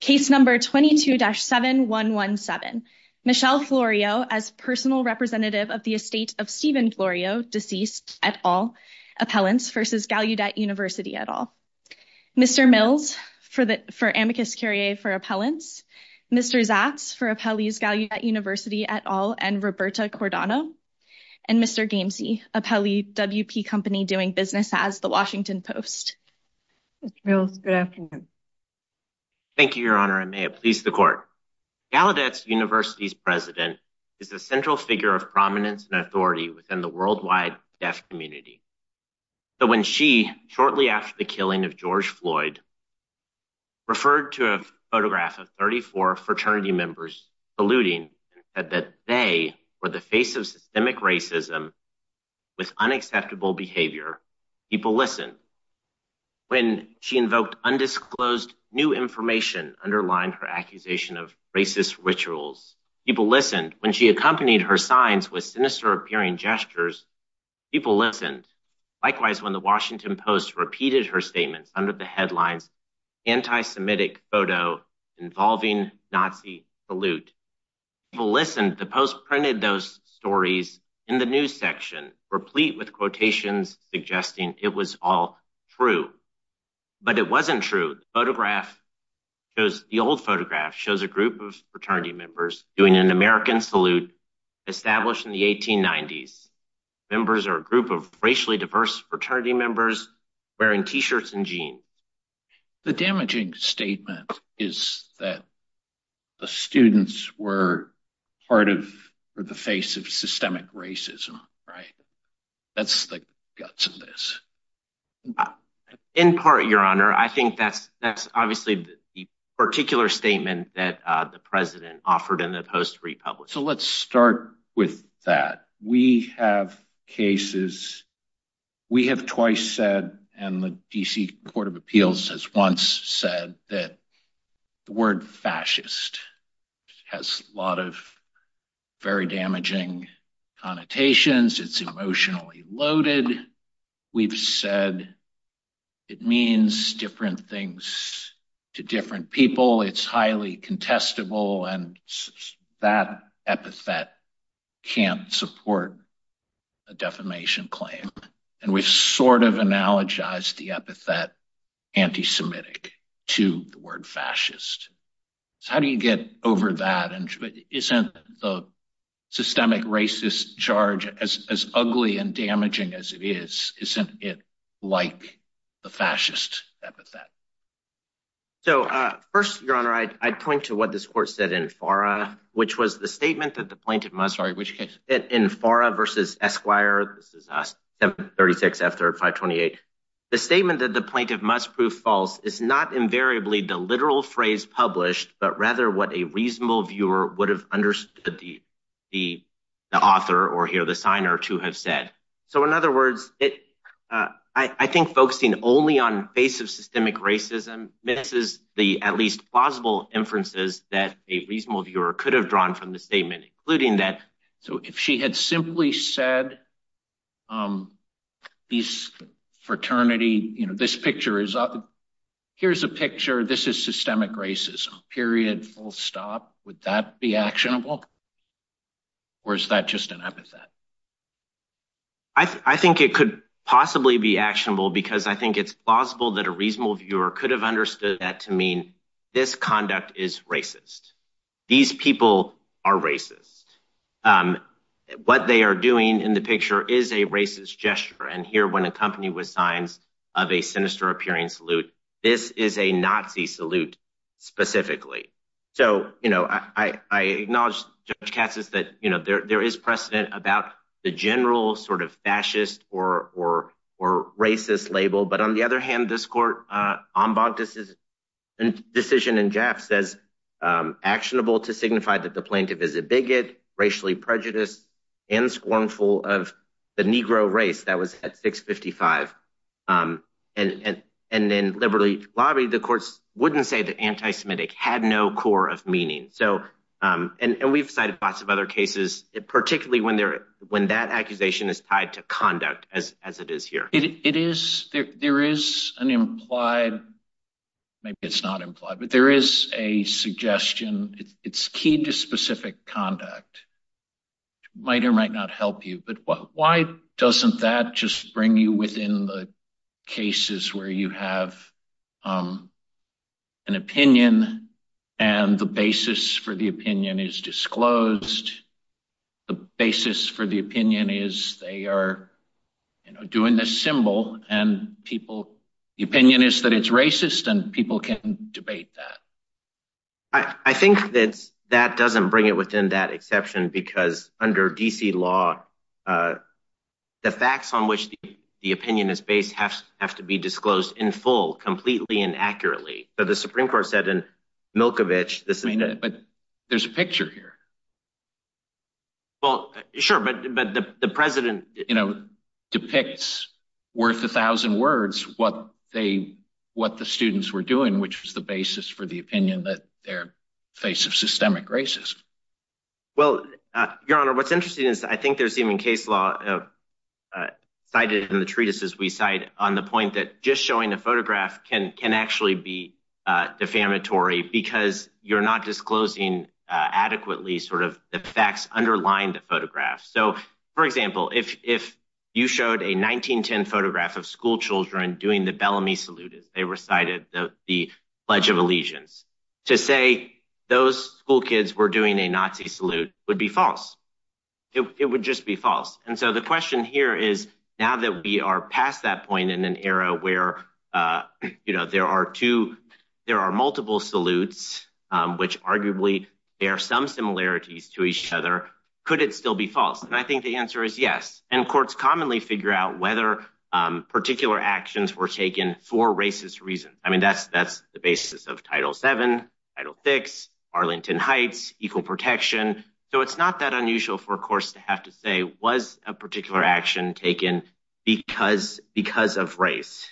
Case number 22-7117. Michelle Florio as personal representative of the estate of Stephen Florio, deceased, et al. Appellants versus Gallaudet University et al. Mr. Mills for amicus curiae for appellants. Mr. Zatz for appellees Gallaudet University et al. and Roberta Cordano. And Mr. Gamsey, appellee WP company doing business as the Washington Post. Mr. Mills, good afternoon. Thank you, your honor. I may have pleased the court. Gallaudet's university's president is the central figure of prominence and authority within the worldwide deaf community. But when she, shortly after the killing of George Floyd, referred to a photograph of 34 fraternity members saluting that they were the face of systemic racism with unacceptable behavior, people listened. When she invoked undisclosed new information underlying her accusation of racist rituals, people listened. When she accompanied her signs with sinister appearing gestures, people listened. Likewise, when the Washington Post repeated her statements under the headlines, anti-Semitic photo involving Nazi salute, people listened. The Post printed those stories in the news section replete with quotations suggesting it was all true. But it wasn't true. The old photograph shows a group of fraternity members doing an American salute established in the 1890s. Members are a group of racially diverse fraternity members wearing t-shirts and jeans. The damaging statement is that the students were part of the face of systemic racism, right? That's the guts of this. In part, your honor, I think that's obviously the particular statement that the president offered in the Post-Republican. So let's start with that. We have cases, we have twice said, and the D.C. Court of Appeals has once said that the word fascist has a lot of very damaging connotations. It's emotionally loaded. We've said it means different things to different people. It's highly contestable and that epithet can't support a defamation claim. And we've sort of analogized the epithet antisemitic to the word fascist. So how do you get over that? And isn't the systemic racist charge as ugly and damaging as it is? Isn't it like the fascist epithet? So first, your honor, I'd point to what this court said in FARA, which was the statement that the plaintiff must... Sorry, which case? In FARA versus Esquire. This is 736 F-3528. The statement that the plaintiff must prove false is not invariably the literal phrase published, but rather what a reasonable viewer would have understood the author or here the signer to have said. So in other words, I think focusing only on the basis of systemic racism misses the at least plausible inferences that a reasonable viewer could have drawn from the statement, including that. So if she had simply said this fraternity, you know, this picture is... Here's a picture. This is systemic racism, period, full stop. Would that be actionable? Or is that just an epithet? I think it could possibly be actionable because I think it's plausible that a reasonable viewer could have understood that to mean this conduct is racist. These people are racist. What they are doing in the picture is a racist gesture. And here, when accompanied with signs of a sinister appearance salute, this is a Nazi salute specifically. So, you know, I acknowledge Judge Katz's that, you know, there is precedent about the general sort of fascist or racist label. But on the other hand, this court ombud decision in Jaff says actionable to signify that the plaintiff is a bigot, racially prejudiced and scornful of the Negro race that was at 655. And then liberally lobbied, the courts wouldn't say that anti-Semitic had no core of meaning. So and we've cited lots of cases, particularly when that accusation is tied to conduct as it is here. There is an implied, maybe it's not implied, but there is a suggestion. It's key to specific conduct. Might or might not help you. But why doesn't that just bring you within the cases where you have an opinion and the basis for the opinion is disclosed? The basis for the opinion is they are doing this symbol and people, the opinion is that it's racist and people can debate that. I think that that doesn't bring it within that exception, because under D.C. law, uh, the facts on which the opinion is based have have to be disclosed in full, completely and accurately. But the Supreme Court said in Milkovich this. I mean, but there's a picture here. Well, sure, but but the president, you know, depicts worth a thousand words, what they what the students were doing, which was the basis for the opinion that their face of systemic racism. Well, your honor, what's interesting is I think there's even case law cited in the treatises we cite on the point that just showing a photograph can can actually be defamatory because you're not disclosing adequately sort of the facts underlying the photograph. So, for example, if if you showed a 1910 photograph of schoolchildren doing the they recited the Pledge of Allegiance to say those school kids were doing a Nazi salute would be false. It would just be false. And so the question here is now that we are past that point in an era where, you know, there are two there are multiple salutes, which arguably there are some similarities to each other. Could it still be false? And I think the answer is yes. And courts commonly figure out whether particular actions were taken for racist reasons. I mean, that's that's the basis of Title seven, Title six, Arlington Heights, equal protection. So it's not that unusual for a course to have to say was a particular action taken because because of race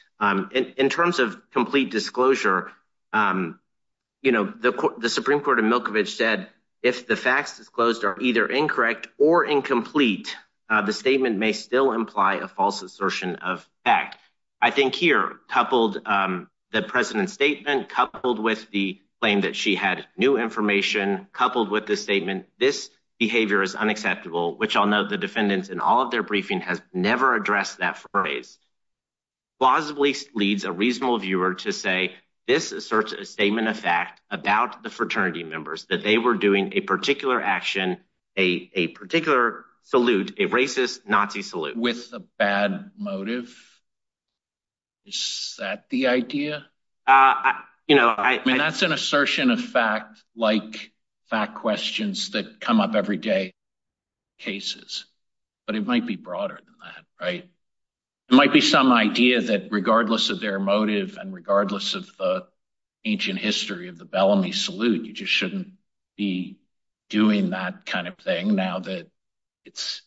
in terms of complete disclosure. You know, the Supreme Court in Milkovich said if the facts disclosed are either incorrect or incomplete, the statement may still imply a false assertion of fact. I think here, coupled the president's statement, coupled with the claim that she had new information, coupled with the statement, this behavior is unacceptable, which I'll note the defendants in all of their briefing has never addressed that phrase. Plausibly leads a reasonable viewer to say this asserts a statement of fact about the fraternity members that they were doing a particular salute, a racist Nazi salute with a bad motive. Is that the idea? You know, I mean, that's an assertion of fact, like fact questions that come up every day cases, but it might be broader than that, right? It might be some idea that regardless of their motive and regardless of ancient history of the Bellamy salute, you just shouldn't be doing that kind of thing now that it's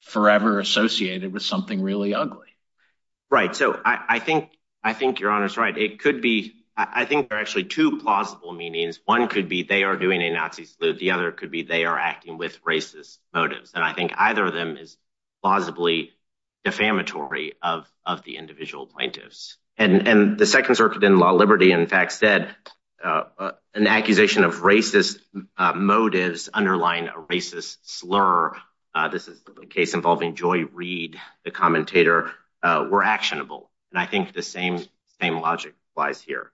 forever associated with something really ugly. Right. So I think I think your honor's right. It could be. I think there are actually two plausible meanings. One could be they are doing a Nazi salute. The other could be they are acting with racist motives. And I think either of Liberty, in fact, said an accusation of racist motives underlying a racist slur. This is a case involving Joy Reed, the commentator were actionable. And I think the same same logic lies here.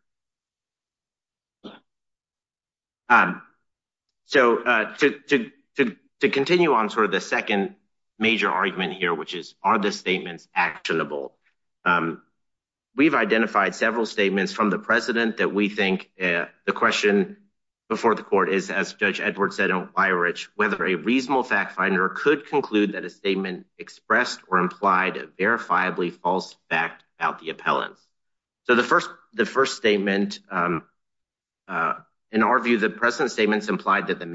So to to to to continue on sort of the second major argument here, which is are the statements actionable? We've identified several statements from the president that we think the question before the court is, as Judge Edwards said, why rich, whether a reasonable fact finder could conclude that a statement expressed or implied a verifiably false fact about the appellants. So the first the first statement. In our view, the president's statements implied that the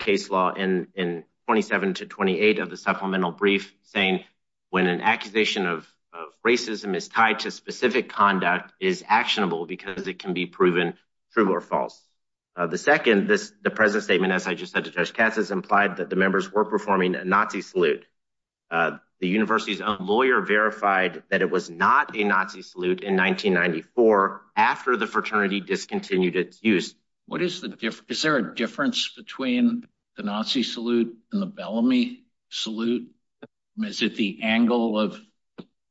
case law and in twenty seven to twenty eight of the supplemental brief saying when an accusation of racism is tied to specific conduct is actionable because it can be proven true or false. The second, this the president's statement, as I just said to Judge Cassis, implied that the members were performing a Nazi salute. The university's own lawyer verified that it was not a Nazi salute in 1994 after the fraternity discontinued its use. What is the difference? Is there a difference between the Nazi salute and the Bellamy salute? Is it the angle of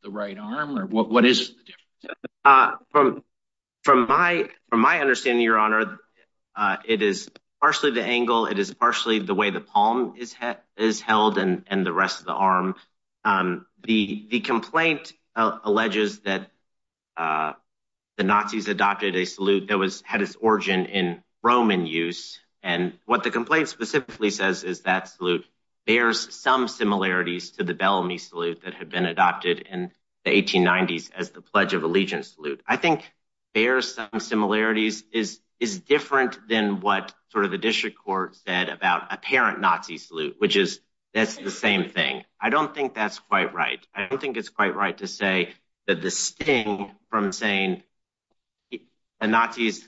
the right arm or what is from from my from my understanding, your honor, it is partially the angle. It is partially the way the palm is is held and the rest of the arm. The complaint alleges that the Nazis adopted a salute that was had its origin in Roman use. And what the complaint specifically says is that salute bears some similarities to the Bellamy salute that had been adopted in the 1890s as the Pledge of Allegiance salute. I think there are some similarities is is different than what sort of the district court said about a parent Nazi salute, which is that's the same thing. I don't think that's quite right. I don't think it's quite to say that the sting from saying the Nazis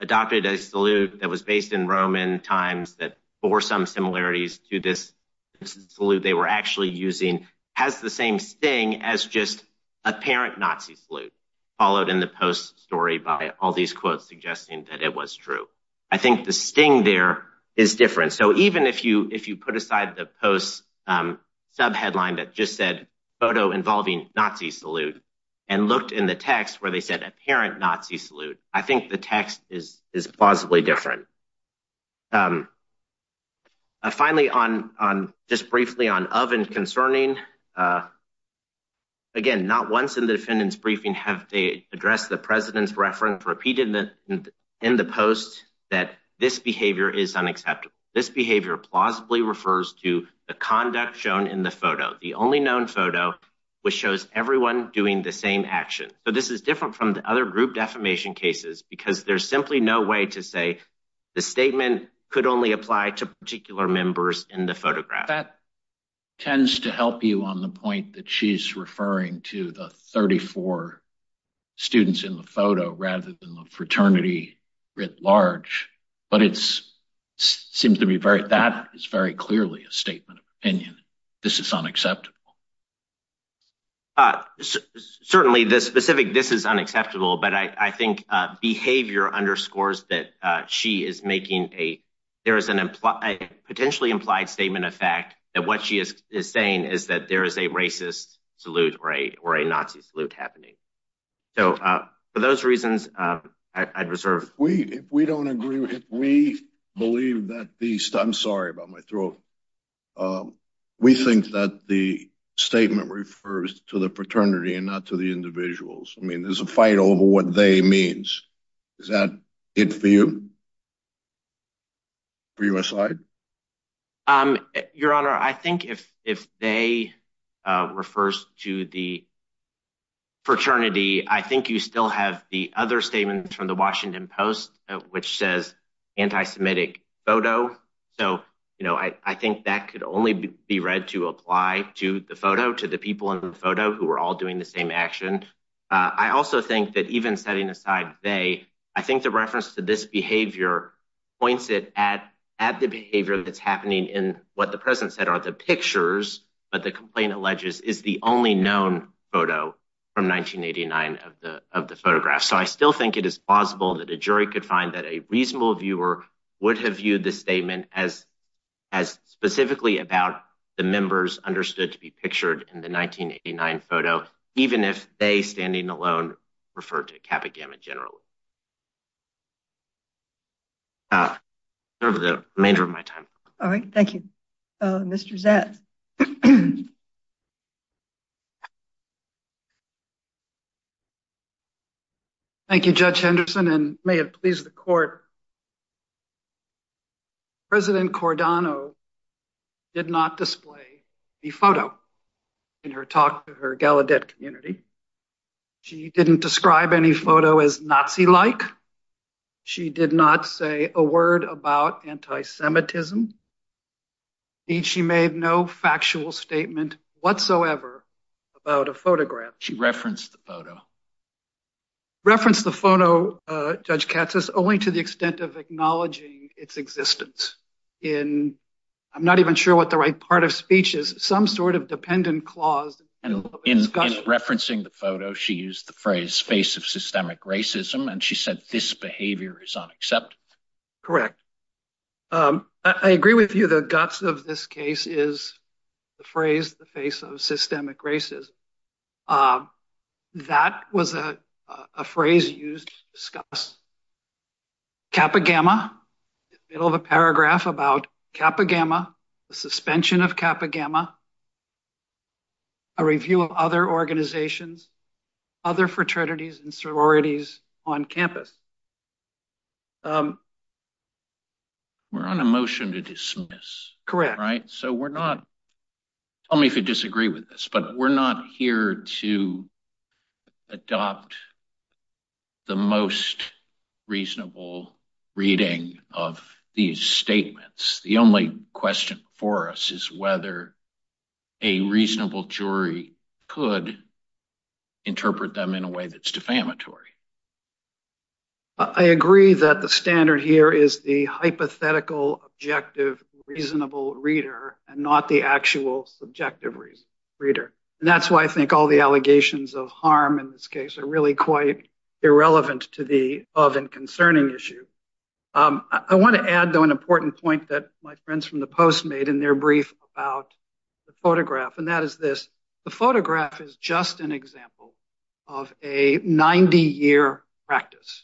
adopted a salute that was based in Roman times that bore some similarities to this salute they were actually using has the same sting as just a parent Nazi salute, followed in the post story by all these quotes suggesting that it was true. I think the sting there is different. So even if you if you put aside the post sub headline that just said photo involving Nazi salute and looked in the text where they said a parent Nazi salute, I think the text is is plausibly different. Finally on on just briefly on of and concerning again not once in the defendant's briefing have they addressed the president's reference repeated in the post that this behavior is unacceptable. This behavior plausibly refers to the conduct shown in the photo the only known photo which shows everyone doing the same action. So this is different from the other group defamation cases because there's simply no way to say the statement could only apply to particular members in the photograph. That tends to help you on the point that she's referring to the 34 students in the photo rather than the fraternity writ large. But it's seems to be very that is very clearly a statement of opinion. This is unacceptable. Certainly this specific this is unacceptable but I think behavior underscores that she is making a there is an implied potentially implied statement of fact that what she is saying is that there is a racist salute right or a Nazi salute happening. So for those reasons I'd reserve. We if we don't agree with it we believe that the I'm sorry about my throat. We think that the statement refers to the fraternity and not to the individuals. I mean there's a fight over what they means. Is that it for you for your side? Your honor I think if if they refers to the fraternity I think you still have the other statement from the Washington Post which says anti-semitic photo. So you know I I think that could only be read to apply to the photo to the people in the photo who are all doing the same action. I also think that even setting aside they I think the reference to this behavior points it at at the behavior that's in what the president said are the pictures but the complaint alleges is the only known photo from 1989 of the of the photograph. So I still think it is possible that a jury could find that a reasonable viewer would have viewed this statement as as specifically about the members understood to be pictured in the 1989 photo even if they standing alone referred to Kappa Gamma generally. The remainder of my time. All right thank you. Mr. Zatz. Thank you Judge Henderson and may it please the court. President Cordano did not display the photo in her talk to her Gallaudet community. She didn't describe any photo as Nazi-like. She did not say a word about anti-semitism and she made no factual statement whatsoever about a photograph. She referenced the photo. Reference the photo Judge Katz says only to the extent of acknowledging its existence in I'm not even sure what the right part of speech is some sort of dependent clause. In referencing the photo she used the phrase face of systemic racism and she said this behavior is unacceptable. Correct. I agree with you the guts of this case is the phrase the face of systemic racism. That was a phrase used to discuss Kappa Gamma in the middle of a paragraph about Kappa review of other organizations other fraternities and sororities on campus. We're on a motion to dismiss. Correct. Right so we're not tell me if you disagree with this but we're not here to adopt the most reasonable reading of these statements. The only question for us is whether a reasonable jury could interpret them in a way that's defamatory. I agree that the standard here is the hypothetical objective reasonable reader and not the actual subjective reason reader and that's why I think all the allegations of harm in this case are really quite irrelevant to the of and concerning issue. I want to add though an important point that my friends from the post made in their brief about the photograph and that is this. The photograph is just an example of a 90 year practice.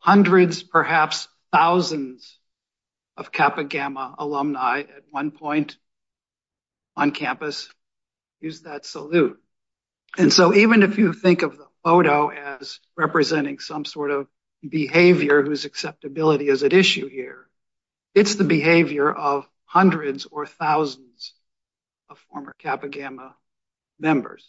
Hundreds perhaps thousands of Kappa Gamma alumni at one point on campus use that salute. And so even if you think of the photo as representing some sort of behavior whose acceptability is at issue here it's the behavior of hundreds or thousands of former Kappa Gamma members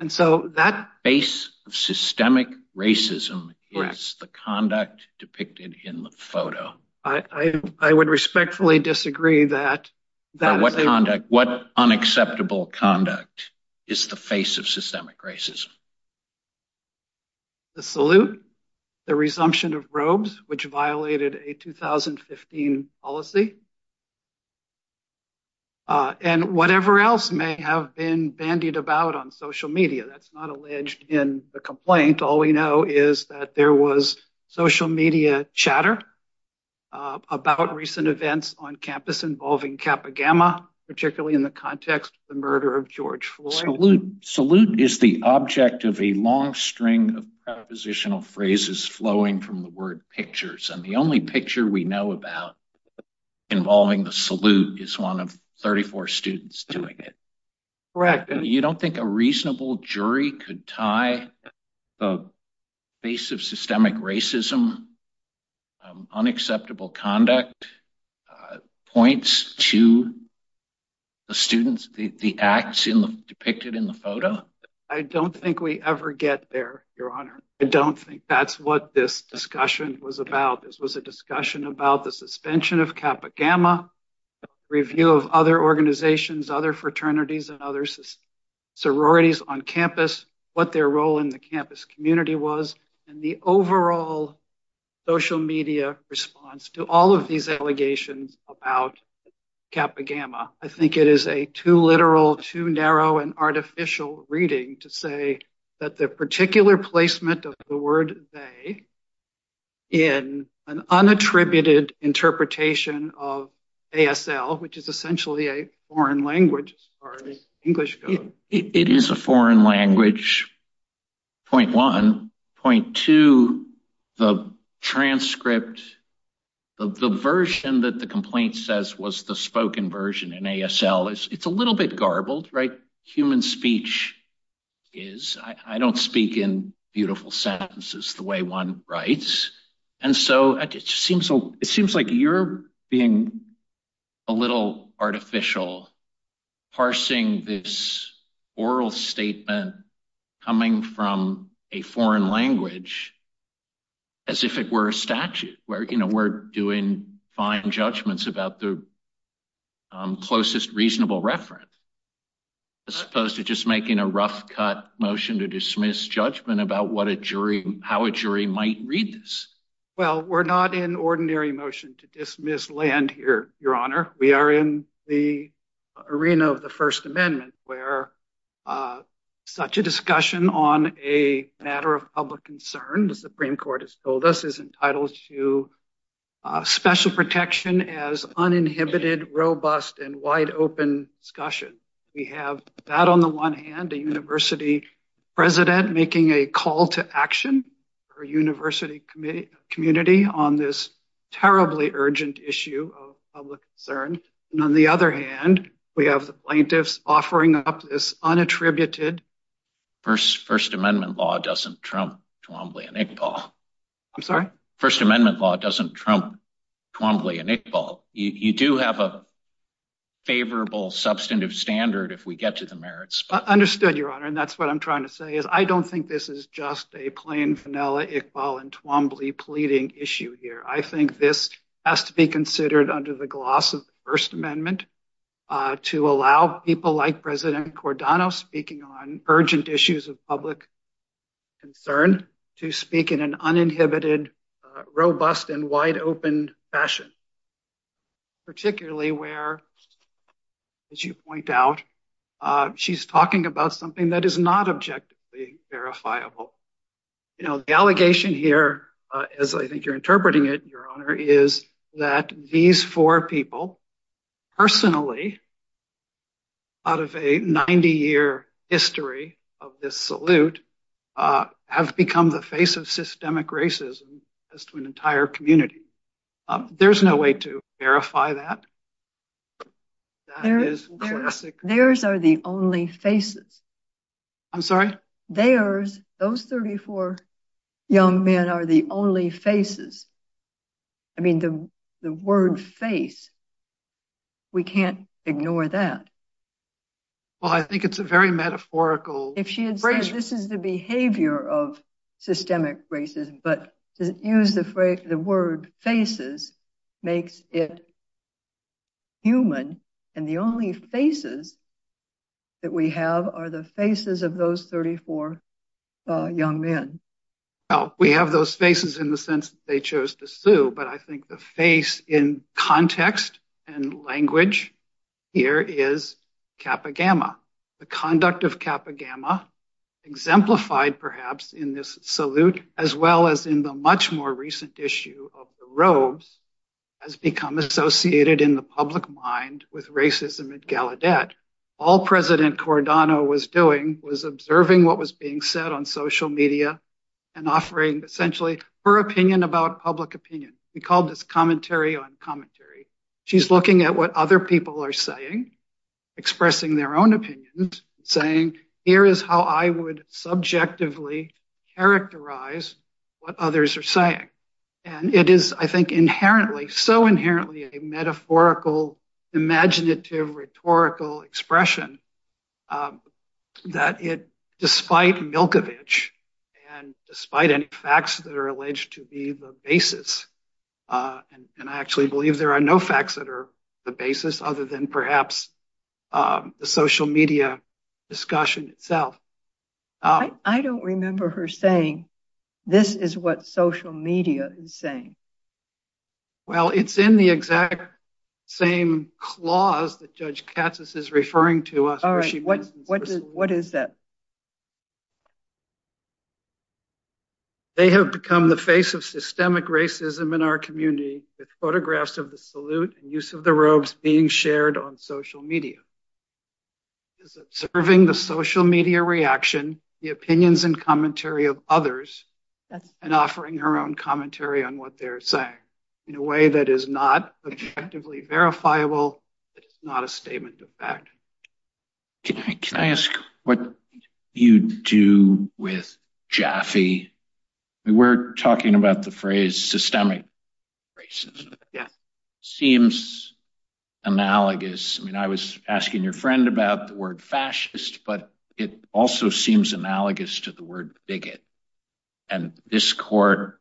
and so that base of systemic racism is the conduct depicted in the photo. I would respectfully disagree that that what conduct what unacceptable conduct is the face of systemic racism. The salute the resumption of robes which violated a 2015 policy and whatever else may have been bandied about on social media that's not alleged in the complaint all we know is that there was social media chatter about recent events on campus involving Kappa Gamma particularly in the context the murder of George Floyd. Salute is the object of a long string of propositional phrases flowing from the word pictures and the only picture we know about involving the salute is one of 34 students doing it. Correct. You don't think a reasonable jury could tie the face of systemic racism unacceptable conduct points to the students the acts in the depicted in the photo? I don't think we ever get there your honor. I don't think that's what this discussion was about. This was a discussion about the suspension of Kappa Gamma review of other organizations other fraternities and other sororities on campus what their role in the campus community was and the overall social media response to all of these allegations about Kappa Gamma. I think it is a too literal too narrow and artificial reading to say that the particular placement of the word they in an unattributed interpretation of ASL which is a foreign language as far as English goes. It is a foreign language point one. Point two the transcript the version that the complaint says was the spoken version in ASL is it's a little bit garbled right human speech is I don't speak in beautiful sentences the way one writes and so it seems like you're being a little artificial parsing this oral statement coming from a foreign language as if it were a statute where you know we're doing fine judgments about the closest reasonable reference as opposed to just making a rough cut motion to dismiss judgment about what a jury how a jury might read this. Well we're not in ordinary motion to dismiss land here your honor we are in the arena of the first amendment where such a discussion on a matter of public concern the supreme court has told us is entitled to special protection as uninhibited robust and wide open discussion. We have that on the one hand a university president making a call to action for a university committee community on this terribly urgent issue of public concern and on the other hand we have the plaintiffs offering up this unattributed first first amendment law doesn't trump Twombly and Iqbal. I'm sorry? First amendment law doesn't trump Twombly and Iqbal. You do have a favorable substantive standard if we get to the merits. Understood your honor and that's what I'm trying to say is I don't think this is just a plain vanilla Iqbal and Twombly pleading issue here. I think this has to be considered under the gloss of the first amendment to allow people like president Cordano speaking on urgent issues of public concern to speak in an uninhibited robust and wide open fashion particularly where as you point out she's talking about something that is not objectively verifiable. You know the allegation here as I think you're interpreting it your honor is that these four people personally out of a 90-year history of this salute have become the face of systemic racism as to an entire community. There's no way to verify that that is classic. Theirs are the only faces. I'm sorry? Theirs those 34 young men are the only faces. I mean the the word face we can't ignore that. Well I think it's a very metaphorical. If she had said this is the behavior of systemic racism but to use the phrase the word faces makes it human and the only faces that we have are the faces of those 34 young men. Well we have those faces in the sense that they chose to sue but I think the face in context and language here is Kappa Gamma. The conduct of Kappa Gamma exemplified perhaps in this salute as well as in the much more recent issue of the robes has become associated in the public mind with racism at Gallaudet. All President Cordano was doing was observing what was being said on social media and offering essentially her opinion about public opinion. We called this commentary on commentary. She's looking at what other people are saying expressing their own opinions saying here is how I would subjectively characterize what others are saying and it is I think inherently so inherently a metaphorical imaginative rhetorical expression that it despite Milkovich and despite any facts that are alleged to be the basis and I actually believe there are no facts that are the basis other than perhaps the social media discussion itself. I don't remember her saying this is what social media is saying. Well it's in the exact same clause that Judge Katsas is referring to us. What is that? They have become the face of systemic racism in our community with photographs of the salute and the robes being shared on social media is observing the social media reaction the opinions and commentary of others and offering her own commentary on what they're saying in a way that is not objectively verifiable. It's not a statement of fact. Can I ask what you do with Jaffe? We were talking about the phrase systemic racism. Yeah. Seems analogous. I mean I was asking your friend about the word fascist but it also seems analogous to the word bigot and this court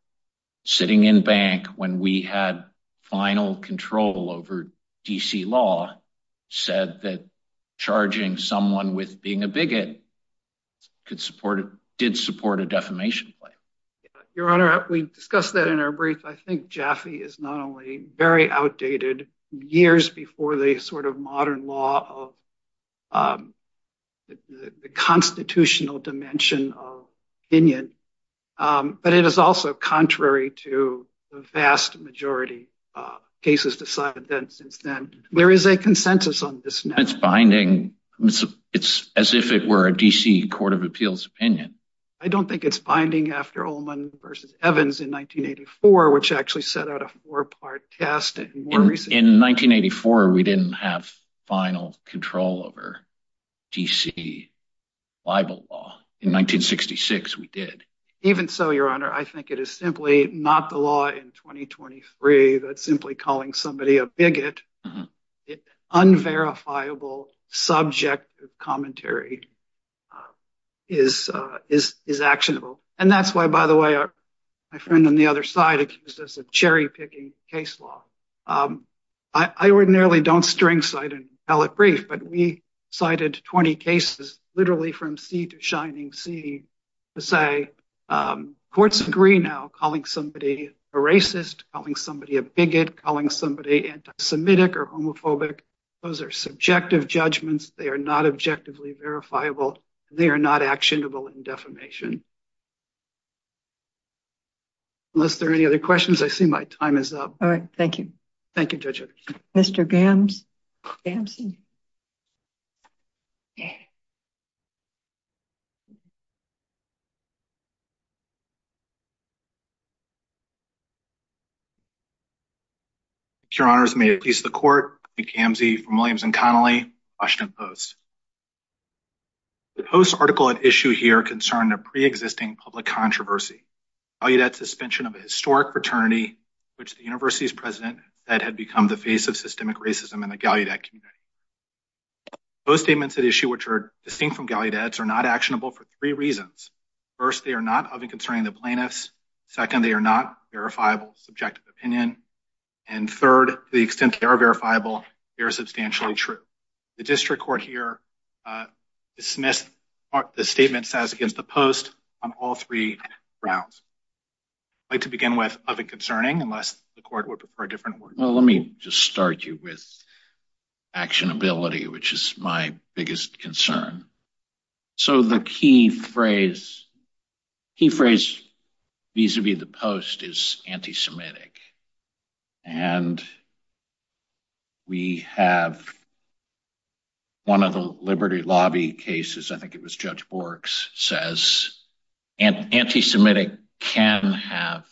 sitting in bank when we had final control over DC law said that charging someone with being a bigot did support a defamation claim. Your honor, we discussed that in our brief. I think Jaffe is not only very outdated years before the sort of modern law of the constitutional dimension of opinion but it is also contrary to the vast majority cases decided since then. There is a consensus on this. It's binding. It's as if it were a DC court of appeals opinion. I don't think it's binding after Ullman versus Evans in 1984 which actually set out a four-part test. In 1984 we didn't have final control over DC Bible law. In 1966 we did. Even so, your honor, I think it is simply not the law in 2023 that's simply calling somebody a bigot. Unverifiable subject commentary is actionable and that's why by the way my friend on the other side accused us of cherry-picking case law. I ordinarily don't tell a brief but we cited 20 cases literally from sea to shining sea to say courts agree now calling somebody a racist, calling somebody a bigot, calling somebody anti-semitic or homophobic. Those are subjective judgments. They are not objectively verifiable. They are not actionable in defamation. Unless there are any other questions, I see my time is up. All right, Gamzee. Your honors, may it please the court, I'm Gamzee from Williams and Connolly, Washington Post. The post article at issue here concerned a pre-existing public controversy. I'll you that suspension of a historic fraternity which the university's president said had become the face of systemic racism in the Gallaudet community. Those statements at issue which are distinct from Gallaudet's are not actionable for three reasons. First, they are not of and concerning the plaintiffs. Second, they are not verifiable subjective opinion. And third, to the extent they are verifiable, they are substantially true. The district court here dismissed the statement says against the post on all three grounds. I'd like to begin with unless the court would prefer a different word. Well, let me just start you with actionability, which is my biggest concern. So the key phrase, key phrase vis-a-vis the post is anti-semitic. And we have one of the liberty lobby cases, I think it was Judge Borks, says anti-semitic can have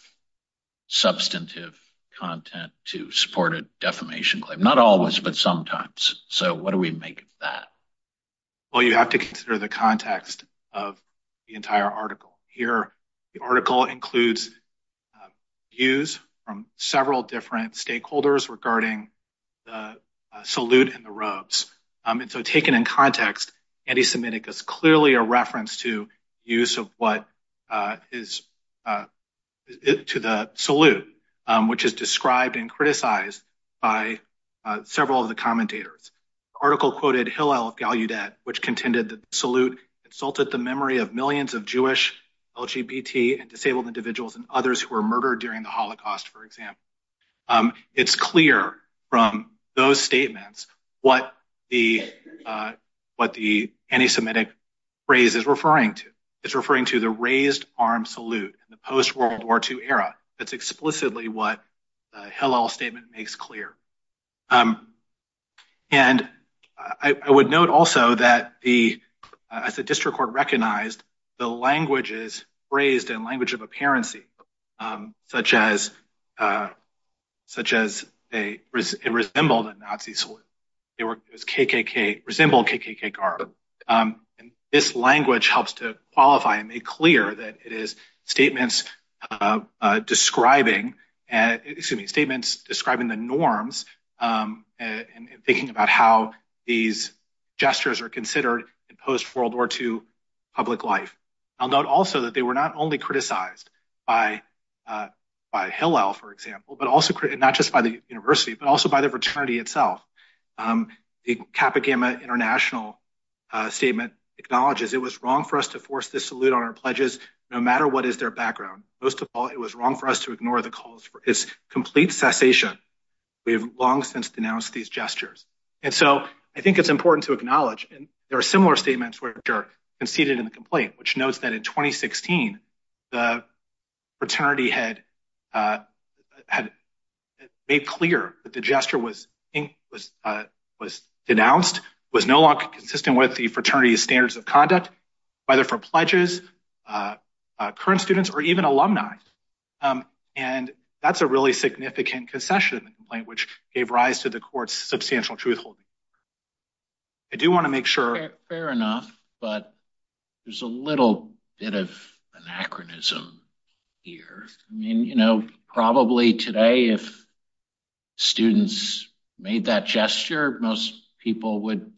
substantive content to support a defamation claim. Not always, but sometimes. So what do we make of that? Well, you have to consider the context of the entire article. Here, the article includes views from several different stakeholders regarding the salute and the robes. And so taken in context, anti-semitic is clearly a reference to use of what is to the salute, which is described and criticized by several of the commentators. The article quoted Hillel of Gallaudet, which contended that the salute insulted the memory of millions of Jewish, LGBT, and disabled individuals and others who were murdered during the Holocaust, for example. It's clear from those statements what the anti-semitic phrase is referring to. It's referring to the raised arm salute in the post-World War II era. That's explicitly what the Hillel statement makes clear. And I would note also that the, as the district court recognized, the languages phrased and language of apparency, such as, it resembled a Nazi salute. It was KKK, resembled KKK garb. And this language helps to qualify and make clear that it is statements describing, excuse me, statements describing the norms and thinking about how these gestures are considered in post-World War II public life. I'll note also that they were not only criticized by Hillel, for example, but also, not just by the university, but also by the fraternity itself. The Kappa Gamma International statement acknowledges, it was wrong for us to force this salute on our pledges, no matter what is their background. Most of all, it was wrong for us to ignore the calls for its complete cessation. We have long since denounced these gestures. And so I think it's important to note that in 2016, the fraternity had made clear that the gesture was denounced, was no longer consistent with the fraternity's standards of conduct, whether for pledges, current students, or even alumni. And that's a really significant concession complaint, which gave rise to the bit of anachronism here. I mean, you know, probably today, if students made that gesture, most people would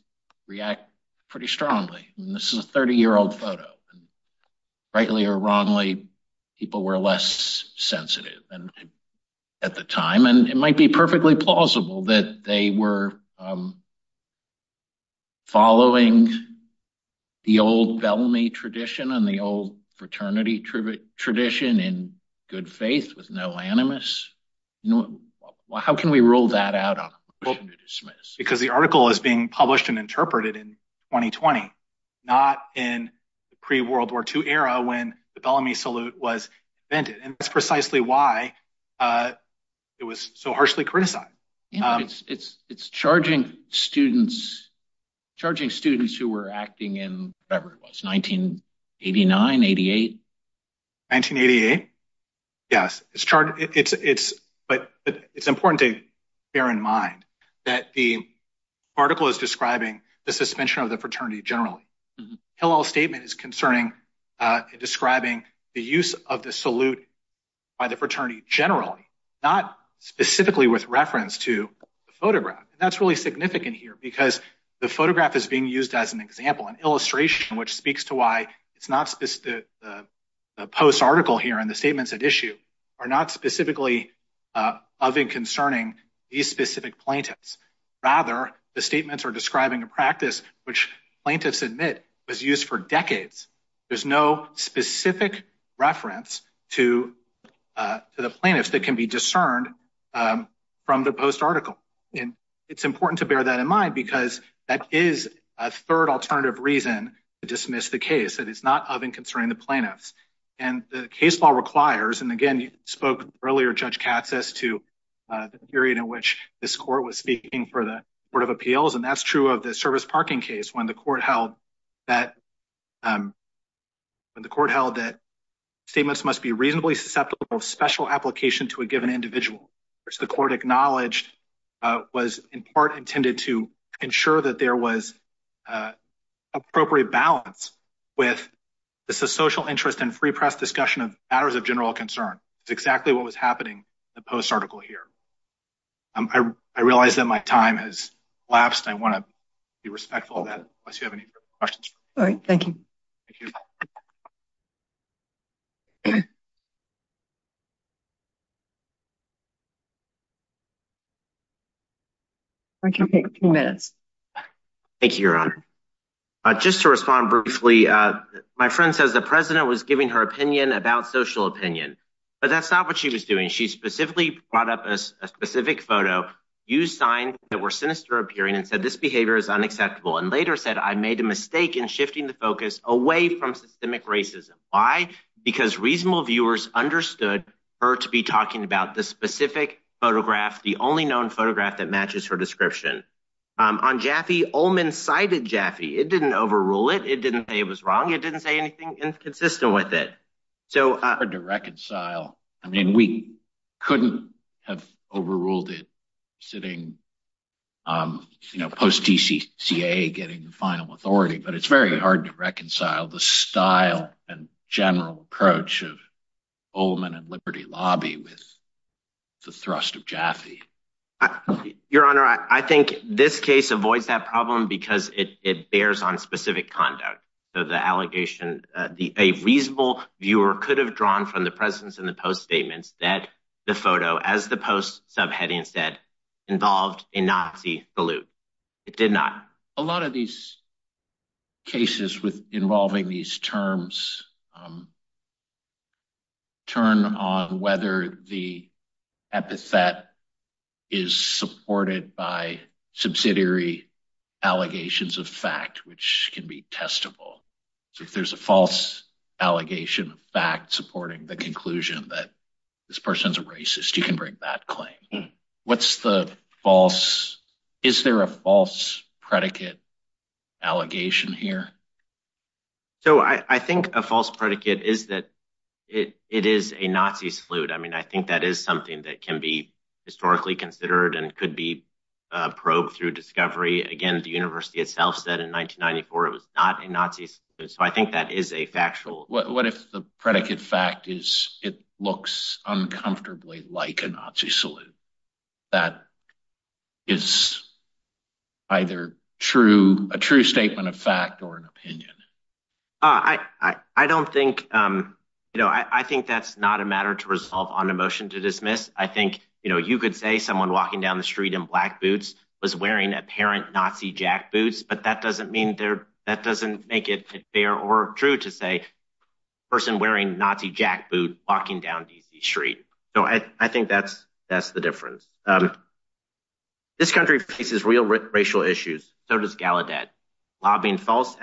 react pretty strongly. And this is a 30-year-old photo. And rightly or wrongly, people were less sensitive than at the time. And it might be perfectly plausible that they were following the old Bellamy tradition and the old fraternity tradition in good faith with no animus. How can we rule that out? Because the article is being published and interpreted in 2020, not in the pre-World War II era when the Bellamy salute was invented. And that's precisely why it was so harshly criticized. It's charging students who were acting in whatever it was, 1989, 88? 1988, yes. But it's important to bear in mind that the article is describing the suspension of the fraternity generally. Hillel's statement is describing the use of the salute by the fraternity generally, not specifically with reference to the photograph. And that's really significant here because the photograph is being used as an example, an illustration, which speaks to why the post article here and the statements at issue are not specifically of and concerning these specific plaintiffs. Rather, the statements are describing a practice which plaintiffs admit was used for decades. There's no specific reference to the plaintiffs that can be discerned from the post article. And it's important to bear that in mind because that is a third alternative reason to dismiss the case. It is not of and concerning the plaintiffs. And the case law requires, and again, you spoke earlier, Judge Katz, as to the period in which this court was speaking for the Court of Appeals. And that's true of the service parking case when the court held that statements must be reasonably susceptible of special application to a given individual. The court acknowledged was in part intended to ensure that there was appropriate balance with the social interest and free press discussion of matters of general concern. It's exactly what was happening in the post article here. I realize that my time has lapsed. I want to be respectful of that unless you have any questions. All right. Thank you. I can take a few minutes. Thank you, Your Honor. Just to respond briefly, my friend says the but that's not what she was doing. She specifically brought up a specific photo, used signs that were sinister appearing and said this behavior is unacceptable and later said I made a mistake in shifting the focus away from systemic racism. Why? Because reasonable viewers understood her to be talking about this specific photograph, the only known photograph that matches her description. On Jaffee, Ullman cited Jaffee. It didn't overrule it. It didn't say it was wrong. It didn't say anything inconsistent with it. So hard to reconcile. I mean, we couldn't have overruled it sitting, you know, post T.C.C.A. getting the final authority. But it's very hard to reconcile the style and general approach of Ullman and Liberty Lobby with the thrust of Jaffee. Your Honor, I think this case avoids that problem because it bears on specific conduct. So the allegation, a reasonable viewer could have drawn from the presence in the post statements that the photo, as the post subheading said, involved a Nazi salute. It did not. A lot of these cases involving these terms turn on whether the epithet is supported by subsidiary allegations of fact, which can be testable. So if there's a false allegation of fact supporting the conclusion that this person's a racist, you can bring that claim. What's the false? Is there a false predicate allegation here? So I think a false predicate is that it is a Nazi salute. I mean, I think that is something that can be historically considered and could be probed through discovery. Again, the university itself said in 1994 it was not a Nazi salute. So I think that is a factual. What if the predicate fact is it looks uncomfortably like a Nazi salute? That is either true, a true statement of fact or an opinion. I don't think, you know, I think that's not a matter to resolve on a motion to dismiss. I think, you know, you could say someone walking down the street in black boots was wearing apparent Nazi jackboots, but that doesn't mean that doesn't make it fair or true to say a person wearing Nazi jackboot walking down DC street. So I think that's the difference. This country faces real racial issues. So does Gallaudet. Lobbying false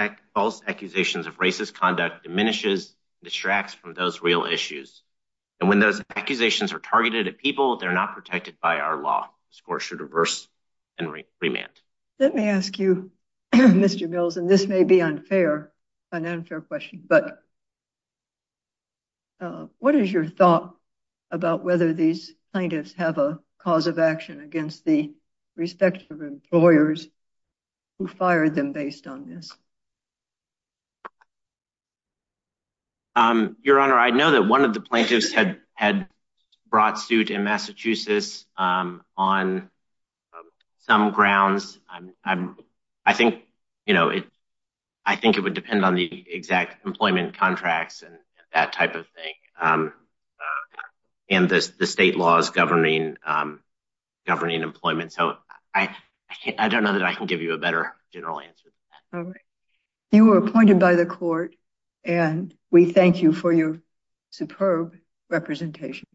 accusations of racist conduct diminishes, distracts from those real issues. And when those accusations are targeted at people, they're not protected by our law. The score should reverse and remand. Let me ask you, Mr. Mills, and this may be unfair, an unfair question, but what is your thought about whether these plaintiffs have a cause of action against the respective employers who fired them based on this? Your Honor, I know that one of the plaintiffs had brought suit in Massachusetts on some grounds. I think, you know, I think it would depend on the exact employment contracts and that type of thing. And the state laws governing employment. So I don't know that I can give you a better general answer than that. All right. You were appointed by the court and we thank you for your superb representation.